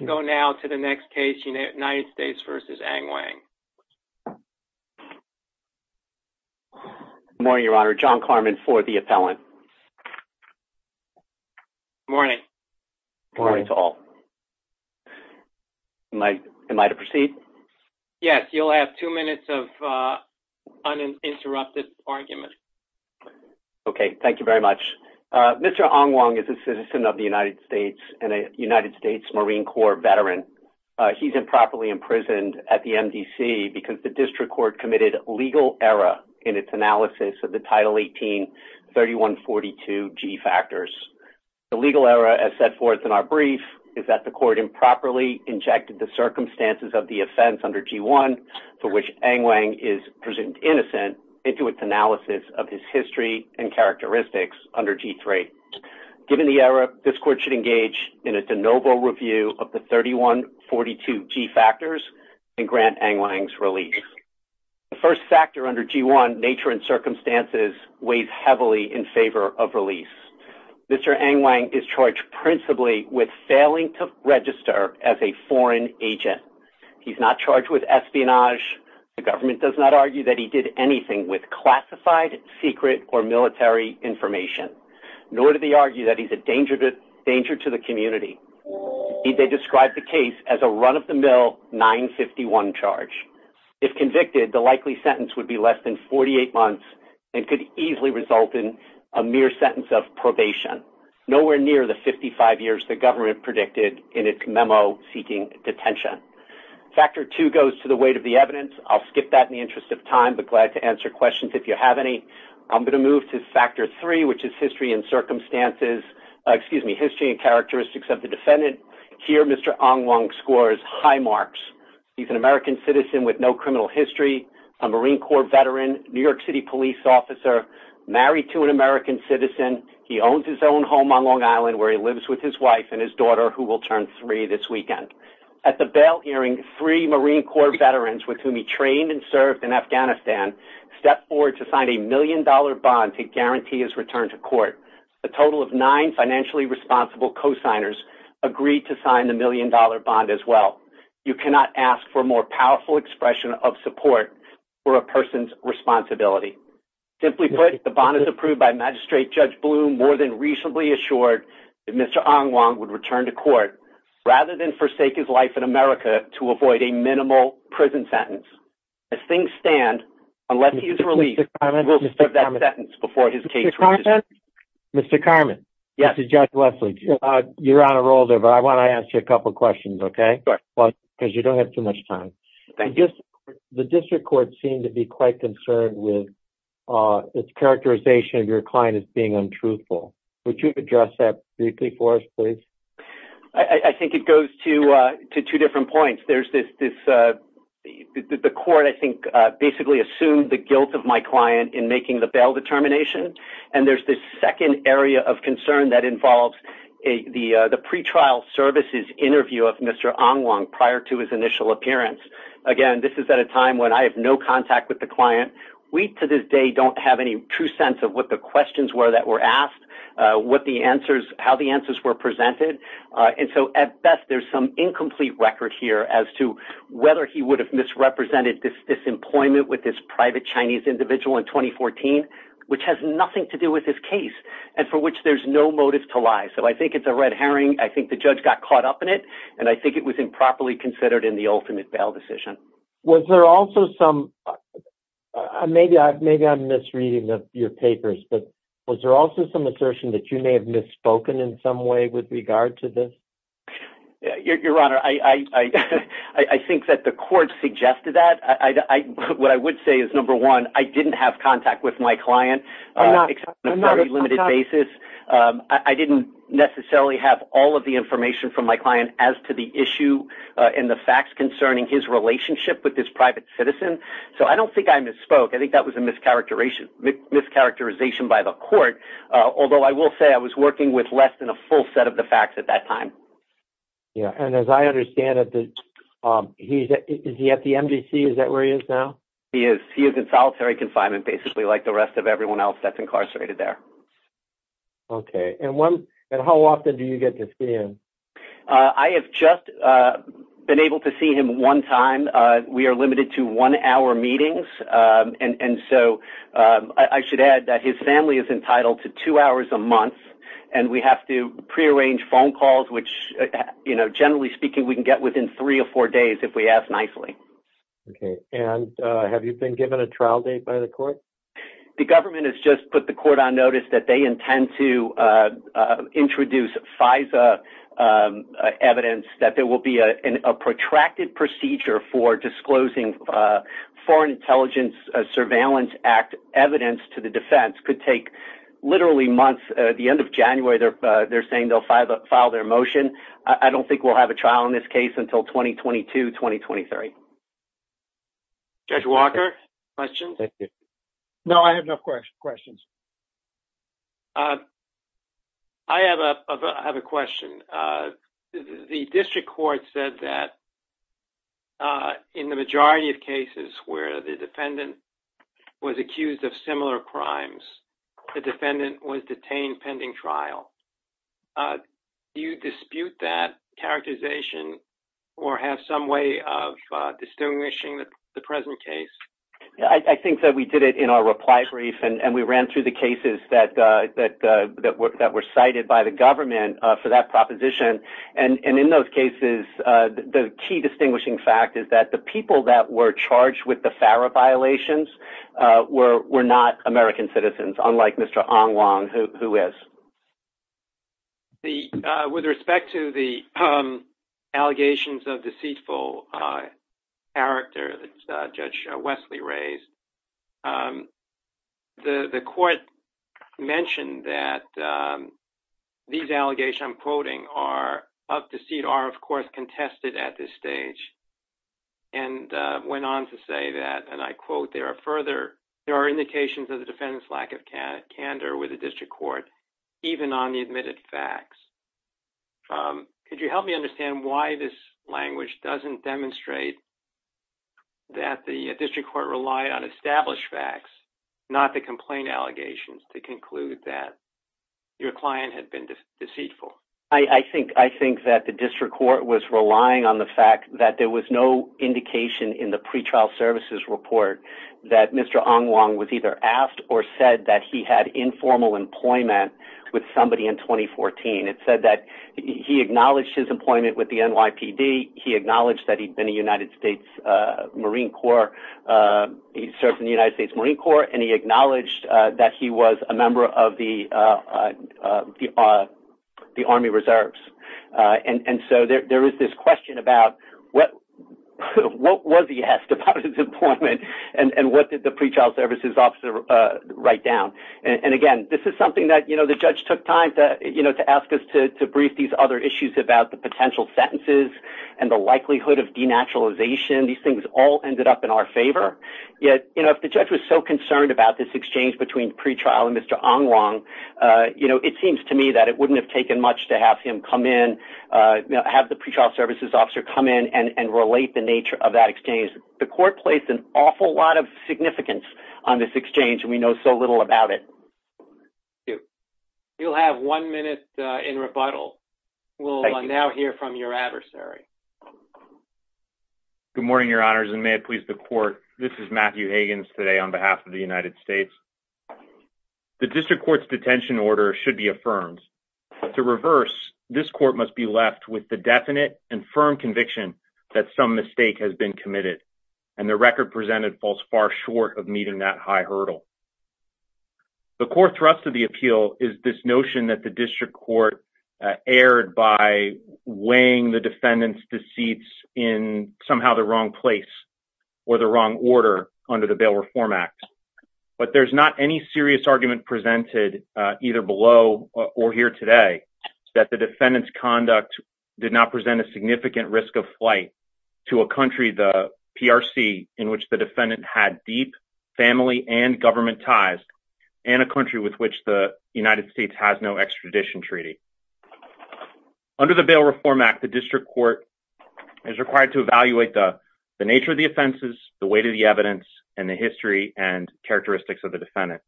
Mr. Hong Wong is a citizen of the United States and a United States Marine Corps veteran. He's improperly imprisoned at the MDC because the district court committed legal error in its analysis of the Title 18-3142G factors. The legal error as set forth in our brief is that the court improperly injected the circumstances of the offense under G1 for which Angwang is presumed innocent into its analysis of his history and characteristics under G3. Given the error, this court should engage in a de novo review of the 3142G factors and grant Angwang's release. The first factor under G1, nature and circumstances, weighs heavily in favor of release. Mr. Angwang is charged principally with failing to register as a foreign agent. He's not charged with espionage. The government does not argue that he did anything with classified secret or danger to the community. They described the case as a run-of-the-mill 951 charge. If convicted, the likely sentence would be less than 48 months and could easily result in a mere sentence of probation, nowhere near the 55 years the government predicted in its memo seeking detention. Factor two goes to the weight of the evidence. I'll skip that in the interest of time but glad to answer questions if you have any. I'm going to move to factor three which is history and characteristics of the defendant. Here, Mr. Angwang scores high marks. He's an American citizen with no criminal history, a Marine Corps veteran, New York City police officer, married to an American citizen. He owns his own home on Long Island where he lives with his wife and his daughter who will turn three this weekend. At the bail hearing, three Marine Corps veterans with whom he trained and served in Afghanistan stepped forward to sign a million-dollar bond to guarantee his return to court. A total of nine financially responsible co-signers agreed to sign the million-dollar bond as well. You cannot ask for a more powerful expression of support for a person's responsibility. Simply put, the bond is approved by Magistrate Judge Bloom more than reasonably assured that Mr. Angwang would return to court rather than forsake his life in America to avoid a minimal prison sentence. As things stand, unless he is released, we'll start that sentence before his case. Mr. Karmann, this is Judge Wesley. You're on a roll there, but I want to ask you a couple questions, okay? Because you don't have too much time. The district court seemed to be quite concerned with its characterization of your client as being untruthful. Would you address that briefly for us, please? I think it goes to two different points. First, the court, I think, basically assumed the guilt of my client in making the bail determination. There's this second area of concern that involves the pretrial services interview of Mr. Angwang prior to his initial appearance. Again, this is at a time when I have no contact with the client. We, to this day, don't have any true sense of what the questions were that were asked, how the answers were presented. At best, there's some incomplete record here as to whether he would have misrepresented this employment with this private Chinese individual in 2014, which has nothing to do with his case and for which there's no motive to lie. I think it's a red herring. I think the judge got caught up in it, and I think it was improperly considered in the ultimate bail decision. Was there also some... Maybe I'm misreading your papers, but was there also some assertion that you may have misspoken in some way with regard to this? Your Honor, I think that the court suggested that. What I would say is, number one, I didn't have contact with my client on a very limited basis. I didn't necessarily have all of the information from my client as to the issue and the facts concerning his relationship with this private citizen, so I don't think I misspoke. I think that was a mischaracterization by the court, although I will say I was working with less than a full set of the facts at that time. Yeah, and as I understand it, is he at the MDC? Is that where he is now? He is. He is in solitary confinement, basically like the rest of everyone else that's incarcerated there. Okay, and how often do you get to see him? I have just been able to see him one time. We are limited to one-hour meetings, and so I should add that his family is entitled to two hours a month, and we have to prearrange phone calls, which generally speaking, we can get within three or four days if we ask nicely. Okay, and have you been given a trial date by the court? The government has just put the court on notice that they intend to introduce FISA evidence that there will be a protracted procedure for disclosing Foreign Intelligence Surveillance Act evidence to the defense. It could take literally months. At the end of January, they're saying they'll file their motion. I don't think we'll have a trial in this case until 2022, 2023. Judge Walker, questions? No, I have no questions. I have a question. The district court said that in the majority of cases where the defendant was accused of similar crimes, the defendant was detained pending trial. Do you dispute that characterization or have some way of distinguishing the present case? I think that we did it in our reply brief, and we ran through the cases that were cited by the government for that proposition, and in those cases, the key distinguishing fact is that the people that were charged with the were not American citizens, unlike Mr. Ong Wong, who is. With respect to the allegations of deceitful character that Judge Wesley raised, the court mentioned that these allegations I'm quoting are of deceit are, of course, there are indications of the defendant's lack of candor with the district court, even on the admitted facts. Could you help me understand why this language doesn't demonstrate that the district court relied on established facts, not the complaint allegations to conclude that your client had been deceitful? I think that the district court was relying on the fact that there was no indication in the pretrial services report that Mr. Ong Wong was either asked or said that he had informal employment with somebody in 2014. It said that he acknowledged his employment with the NYPD. He acknowledged that he'd been in the United States Marine Corps. He served in the United States Marine Corps, and he acknowledged that he was a member of the Army Reserves. There is this question about what was he asked about his employment, and what did the pretrial services officer write down? Again, this is something that the judge took time to ask us to brief these other issues about the potential sentences and the likelihood of denaturalization. These things all ended up in our favor, yet if the judge was so concerned about this exchange between pretrial and Mr. Ong Wong, it seems to me that it wouldn't have taken much to have him come in, have the pretrial services officer come in and relate the nature of that exchange. The court placed an awful lot of significance on this exchange, and we know so little about it. Thank you. You'll have one minute in rebuttal. We'll now hear from your adversary. Good morning, your honors, and may it please the court. This is Matthew Higgins today on behalf of the United States. The district court's detention order should be affirmed. To reverse, this court must be left with the definite and firm conviction that some mistake has been committed, and the record presented falls far short of meeting that high hurdle. The core thrust of the appeal is this notion that the district court erred by weighing the defendant's deceits in somehow the wrong place or the wrong order under the Bail Reform Act, but there's not any serious argument presented either below or here today that the defendant's conduct did not present a significant risk of flight to a country, the PRC, in which the defendant had deep family and government ties, and a country with which the United States has no extradition treaty. Under the Bail Reform Act, the district court is required to evaluate the nature of the offenses, the weight of the evidence, and the history and characteristics of the defendant,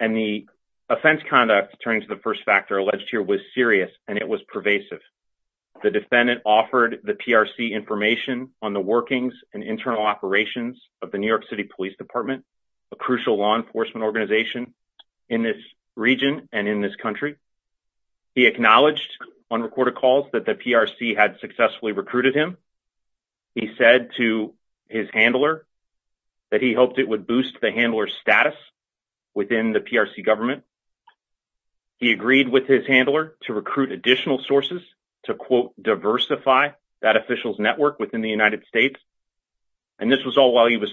and the offense conduct turning to the first factor alleged here was serious, and it was pervasive. The defendant offered the PRC information on the workings and internal operations of the New York City Police Department, a crucial law enforcement organization in this region and in this country. He acknowledged on recorded calls that the PRC had successfully recruited him. He said to his handler that he hoped it would boost the handler's status within the PRC government. He agreed with his handler to recruit additional sources to, quote, diversify that official's network within the United States, and this was all while he was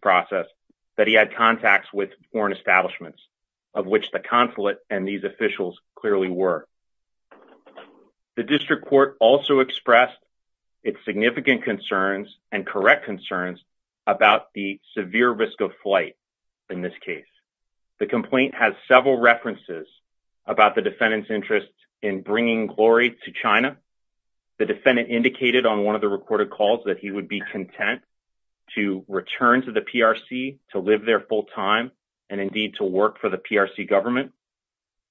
process that he had contacts with foreign establishments, of which the consulate and these officials clearly were. The district court also expressed its significant concerns and correct concerns about the severe risk of flight in this case. The complaint has several references about the defendant's interest in bringing glory to China. The defendant indicated on one of the recorded calls that he would be content to return to the PRC, to live there full time, and indeed to work for the PRC government,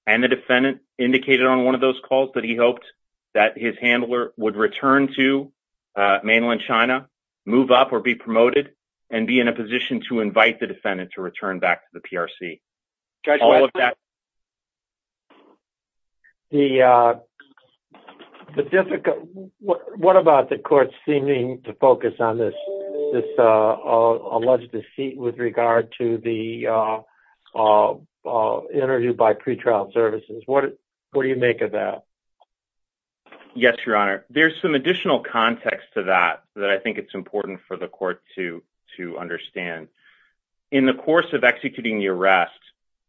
and the defendant indicated on one of those calls that he hoped that his handler would return to mainland China, move up or be promoted, and be in a position to invite the defendant to return back to the PRC. Judge, what about the court seeming to focus on this alleged deceit with regard to the interview by pretrial services? What do you make of that? Yes, your honor. There's some additional context to that that I think it's important for the court to understand. In the course of executing the arrest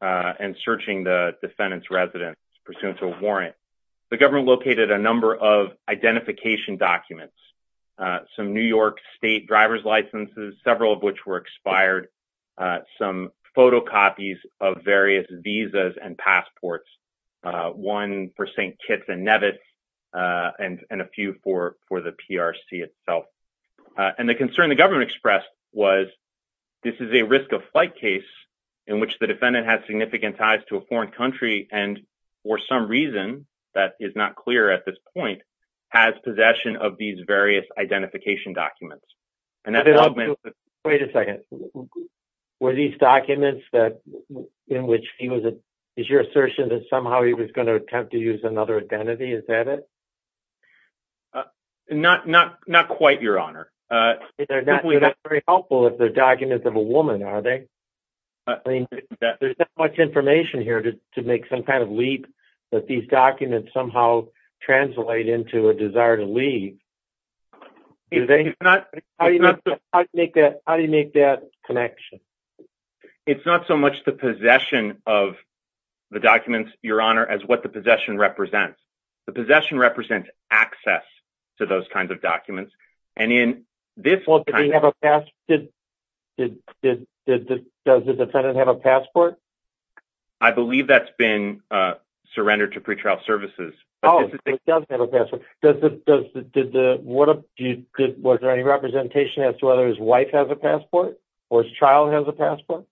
and searching the defendant's residence pursuant to a warrant, the government located a number of identification documents, some New York state driver's licenses, several of which were expired, some photocopies of various visas and passports, one for St. Kitts and Nevis, and a few for the PRC itself. And the concern the government expressed was this is a risk of flight case in which the defendant has significant ties to a foreign country and for some reason, that is not clear at this point, has possession of these various identification documents. Wait a second. Were these documents in which he was, is your assertion that somehow he was going to attempt to use another identity? Is that it? Not quite, your honor. They're not very helpful if they're documents of a woman, are they? There's not much information here to make some kind of leap that these documents somehow translate into a desire to leave. How do you make that connection? It's not so much the possession of the documents, your honor, as what the possession represents. The possession represents access to those kinds of documents. And in this... Does the defendant have a passport? I believe that's been surrendered to pretrial services. Oh, he does have a passport. Did the... Was there any representation as to whether his wife has a passport or his child has a passport?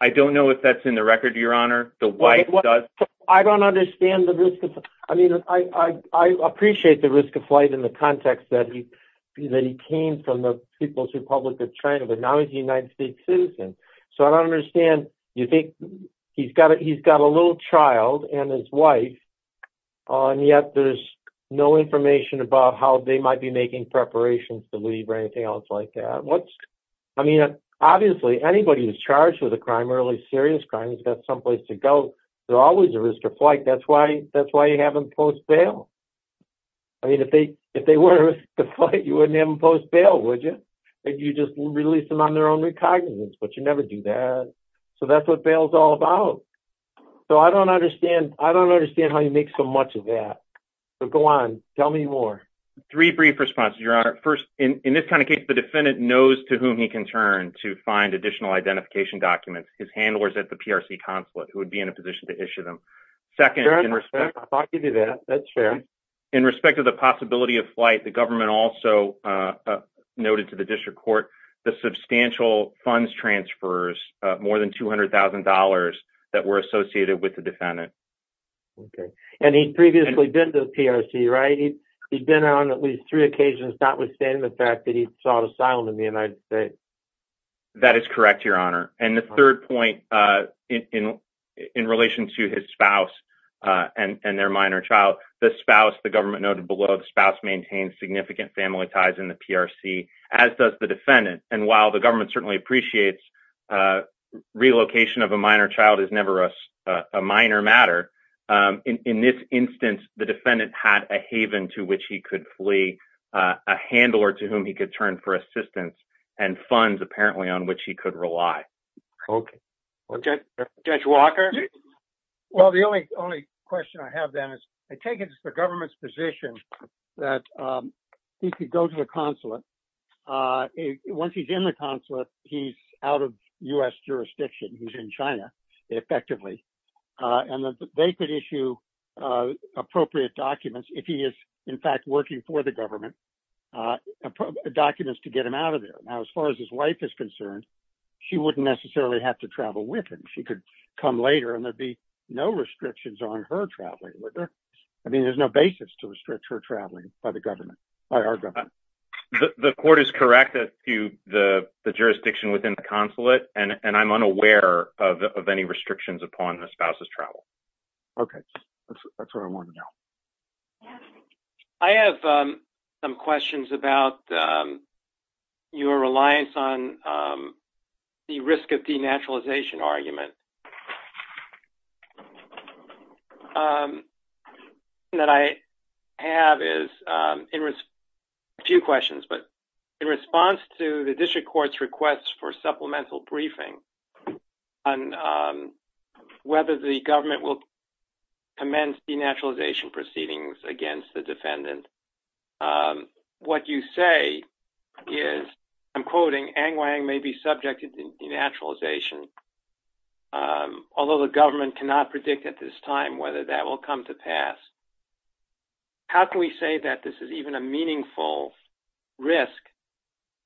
I don't know if that's in the record, your honor. The wife does. I don't understand the risk of... I mean, I appreciate the risk of flight in the context that he came from the People's Republic of China, but now he's a United States citizen. So I don't understand. You think he's got a little child and his wife, and yet there's no information about how they might be making preparations to leave or anything else like that. I mean, obviously, anybody who's charged with a crime, early serious crime, has got someplace to go. There's always a risk of flight. That's why you have them post bail. I mean, if they were at risk of flight, you wouldn't have them post bail, would you? You just release them on their own recognizance, but you never do that. So that's what bail's all about. So I don't understand. I don't understand how you make so much of that. So go on. Tell me more. Three brief responses, your honor. First, in this kind of case, the defendant knows to whom he can turn to find additional identification documents, his handlers at the PRC consulate who would be in a position to issue them. Second, in respect... I thought you knew that. That's fair. In respect of the possibility of flight, the government also noted to the district court the substantial funds transfers, more than $200,000 that were associated with the defendant. Okay. And he'd previously been to the PRC, right? He'd been on at least three occasions, notwithstanding the fact that he sought asylum in the United States. That is correct, your honor. And the third point in relation to his spouse and their minor child, the spouse, the government noted below, the spouse maintained significant family ties in the PRC, as does the defendant. And while the government certainly appreciates relocation of a minor child is never a minor matter, in this instance, the defendant had a haven to which he could flee, a handler to whom he could turn for assistance and funds apparently on which he could rely. Okay. Judge Walker? Well, the only question I have then is I take it as the government's position that he could go to the consulate. Once he's in the consulate, he's out of U.S. jurisdiction. He's in China, effectively. And they could issue appropriate documents if he is, in fact, working for the government, documents to get him out of there. Now, as far as his wife is concerned, she wouldn't necessarily have to travel with him. She could come later and there'd be no restrictions on her traveling with her. I mean, there's no basis to restrict her traveling by the government, by our government. The court is correct to the jurisdiction within the consulate, and I'm unaware of any restrictions upon the spouse's travel. Okay. That's what I wanted to know. I have some questions about your reliance on the risk of denaturalization argument. That I have is a few questions, but in response to the district court's request for supplemental briefing on whether the government will commence denaturalization proceedings against the defendant, what you say is, I'm quoting, Ang Wang may be subjected to denaturalization, although the government cannot predict at this time whether that will come to pass. How can we say that this is even a meaningful risk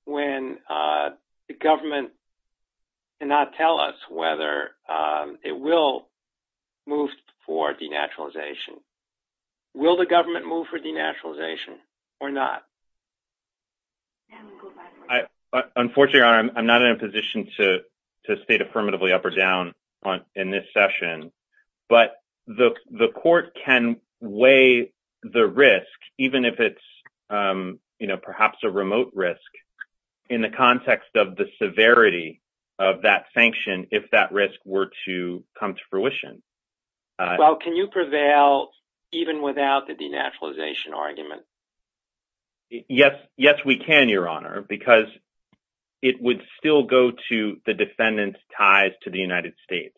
when the government cannot tell us whether it will move for denaturalization? Will the government move for denaturalization or not? Unfortunately, I'm not in a position to state affirmatively up or down in this session, but the court can weigh the risk, even if it's perhaps a remote risk, in the context of the severity of that sanction, if that risk were to come to fruition. Can you prevail even without the denaturalization argument? Yes, we can, Your Honor, because it would still go to the defendant's ties to the United States.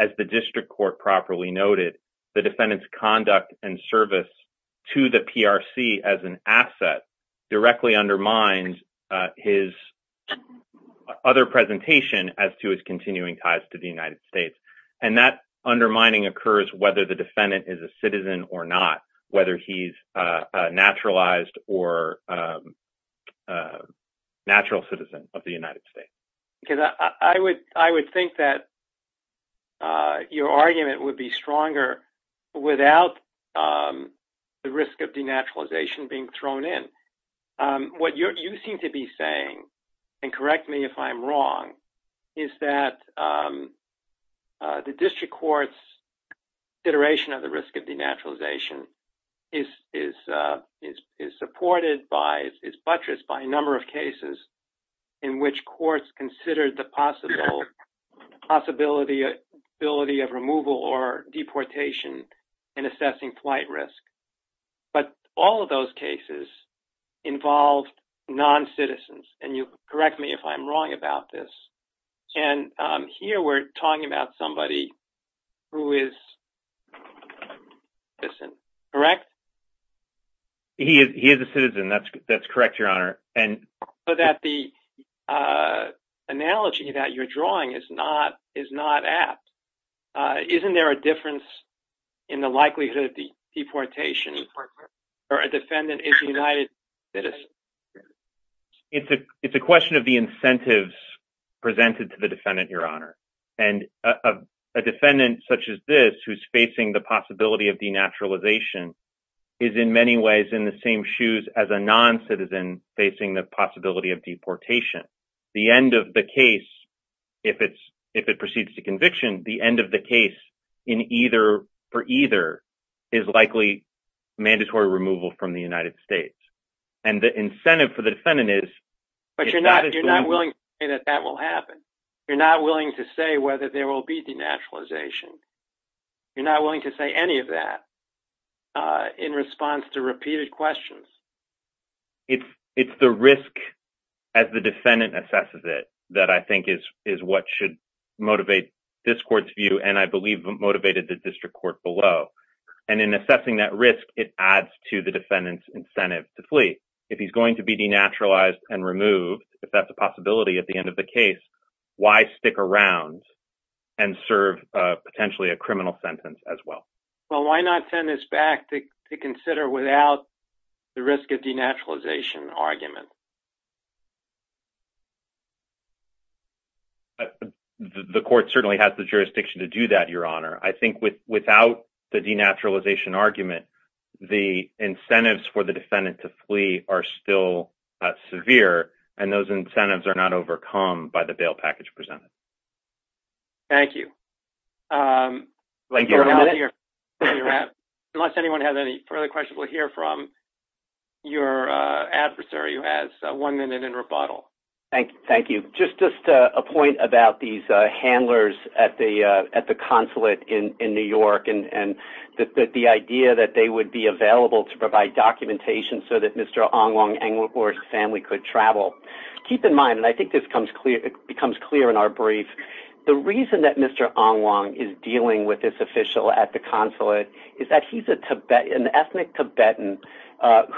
As the district court properly noted, the defendant's conduct and service to the PRC as an asset directly undermines his other presentation as to his continuing ties to the United States. That undermining occurs whether the defendant is a citizen or not, whether he's a naturalized or natural citizen of the United States. Because I would think that your argument would be stronger without the risk of denaturalization being thrown in. What you seem to be saying, and correct me if I'm wrong, is that the district court's iteration of the risk of denaturalization is supported by, is buttressed by a number of considered the possibility of removal or deportation in assessing flight risk. But all of those cases involved non-citizens, and you correct me if I'm wrong about this, and here we're talking about somebody who is a citizen, correct? He is a citizen, that's correct, Your Honor. But the analogy that you're drawing is not apt. Isn't there a difference in the likelihood of deportation for a defendant is a United citizen? It's a question of the incentives presented to the defendant, Your Honor. And a defendant such as this who's facing the possibility of denaturalization is in many ways in the same shoes as a non-citizen facing the possibility of deportation. The end of the case, if it proceeds to conviction, the end of the case for either is likely mandatory removal from the United States. And the incentive for the defendant is- But you're not willing to say that that will happen. You're not willing to say whether there in response to repeated questions. It's the risk as the defendant assesses it that I think is what should motivate this court's view, and I believe motivated the district court below. And in assessing that risk, it adds to the defendant's incentive to flee. If he's going to be denaturalized and removed, if that's a possibility at the end of the case, why stick around and serve potentially a criminal sentence as well? Well, why not send this back to consider without the risk of denaturalization argument? The court certainly has the jurisdiction to do that, Your Honor. I think without the denaturalization argument, the incentives for the defendant to flee are still severe, and those incentives are not overcome by the bail package presented. Thank you. Unless anyone has any further questions we'll hear from, your adversary has one minute in rebuttal. Thank you. Just a point about these handlers at the consulate in New York and the idea that they would be available to provide documentation so that Mr. Ong Wong and his family could travel. Keep in mind, and I think this becomes clear in our brief, the reason that Mr. Ong Wong is dealing with this official at the consulate is that he's an ethnic Tibetan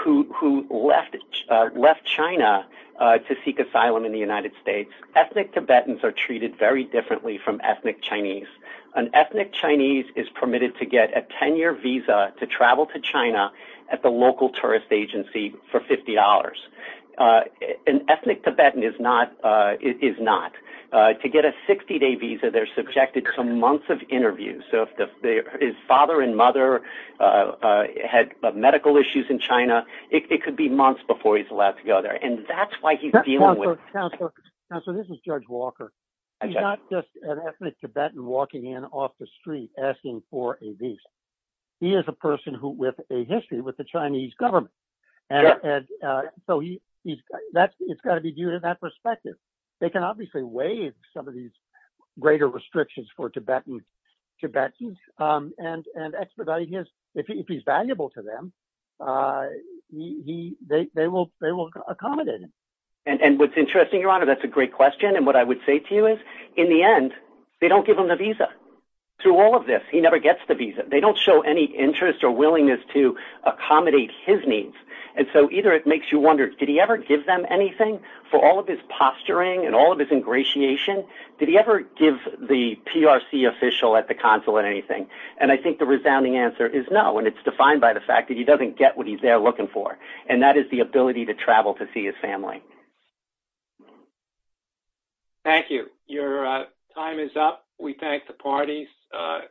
who left China to seek asylum in the United States. Ethnic Tibetans are treated very differently from ethnic Chinese. An ethnic Chinese is permitted to get a 10-year visa to travel to China at the local tourist agency for $50. An ethnic Tibetan is not. To get a 60-day visa, they're subjected to months of interviews. If his father and mother had medical issues in China, it could be months before he's allowed to go there. That's why he's dealing with it. Counselor, this is Judge Walker. He's not just an ethnic Tibetan walking in off the street asking for a visa. He is a person with a history with the Chinese government. It's got to be viewed in that perspective. They can obviously waive some of these greater restrictions for Tibetan Tibetans and expedite his... If he's valuable to them, they will accommodate him. And what's interesting, Your Honor, that's a great question. And what I would say to you is, in the end, they don't give him a visa. Through all of this, he never gets the visa. They don't show any interest or willingness to accommodate his needs. And so either it makes you wonder, did he ever give them anything for all of his posturing and all of his ingratiation? Did he ever give the PRC official at the consulate anything? And I think the resounding answer is no. And it's defined by the fact that he doesn't get what he's there looking for. And that is ability to travel to see his family. Thank you. Your time is up. We thank the parties.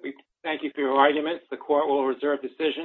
We thank you for your arguments. The court will reserve decisions.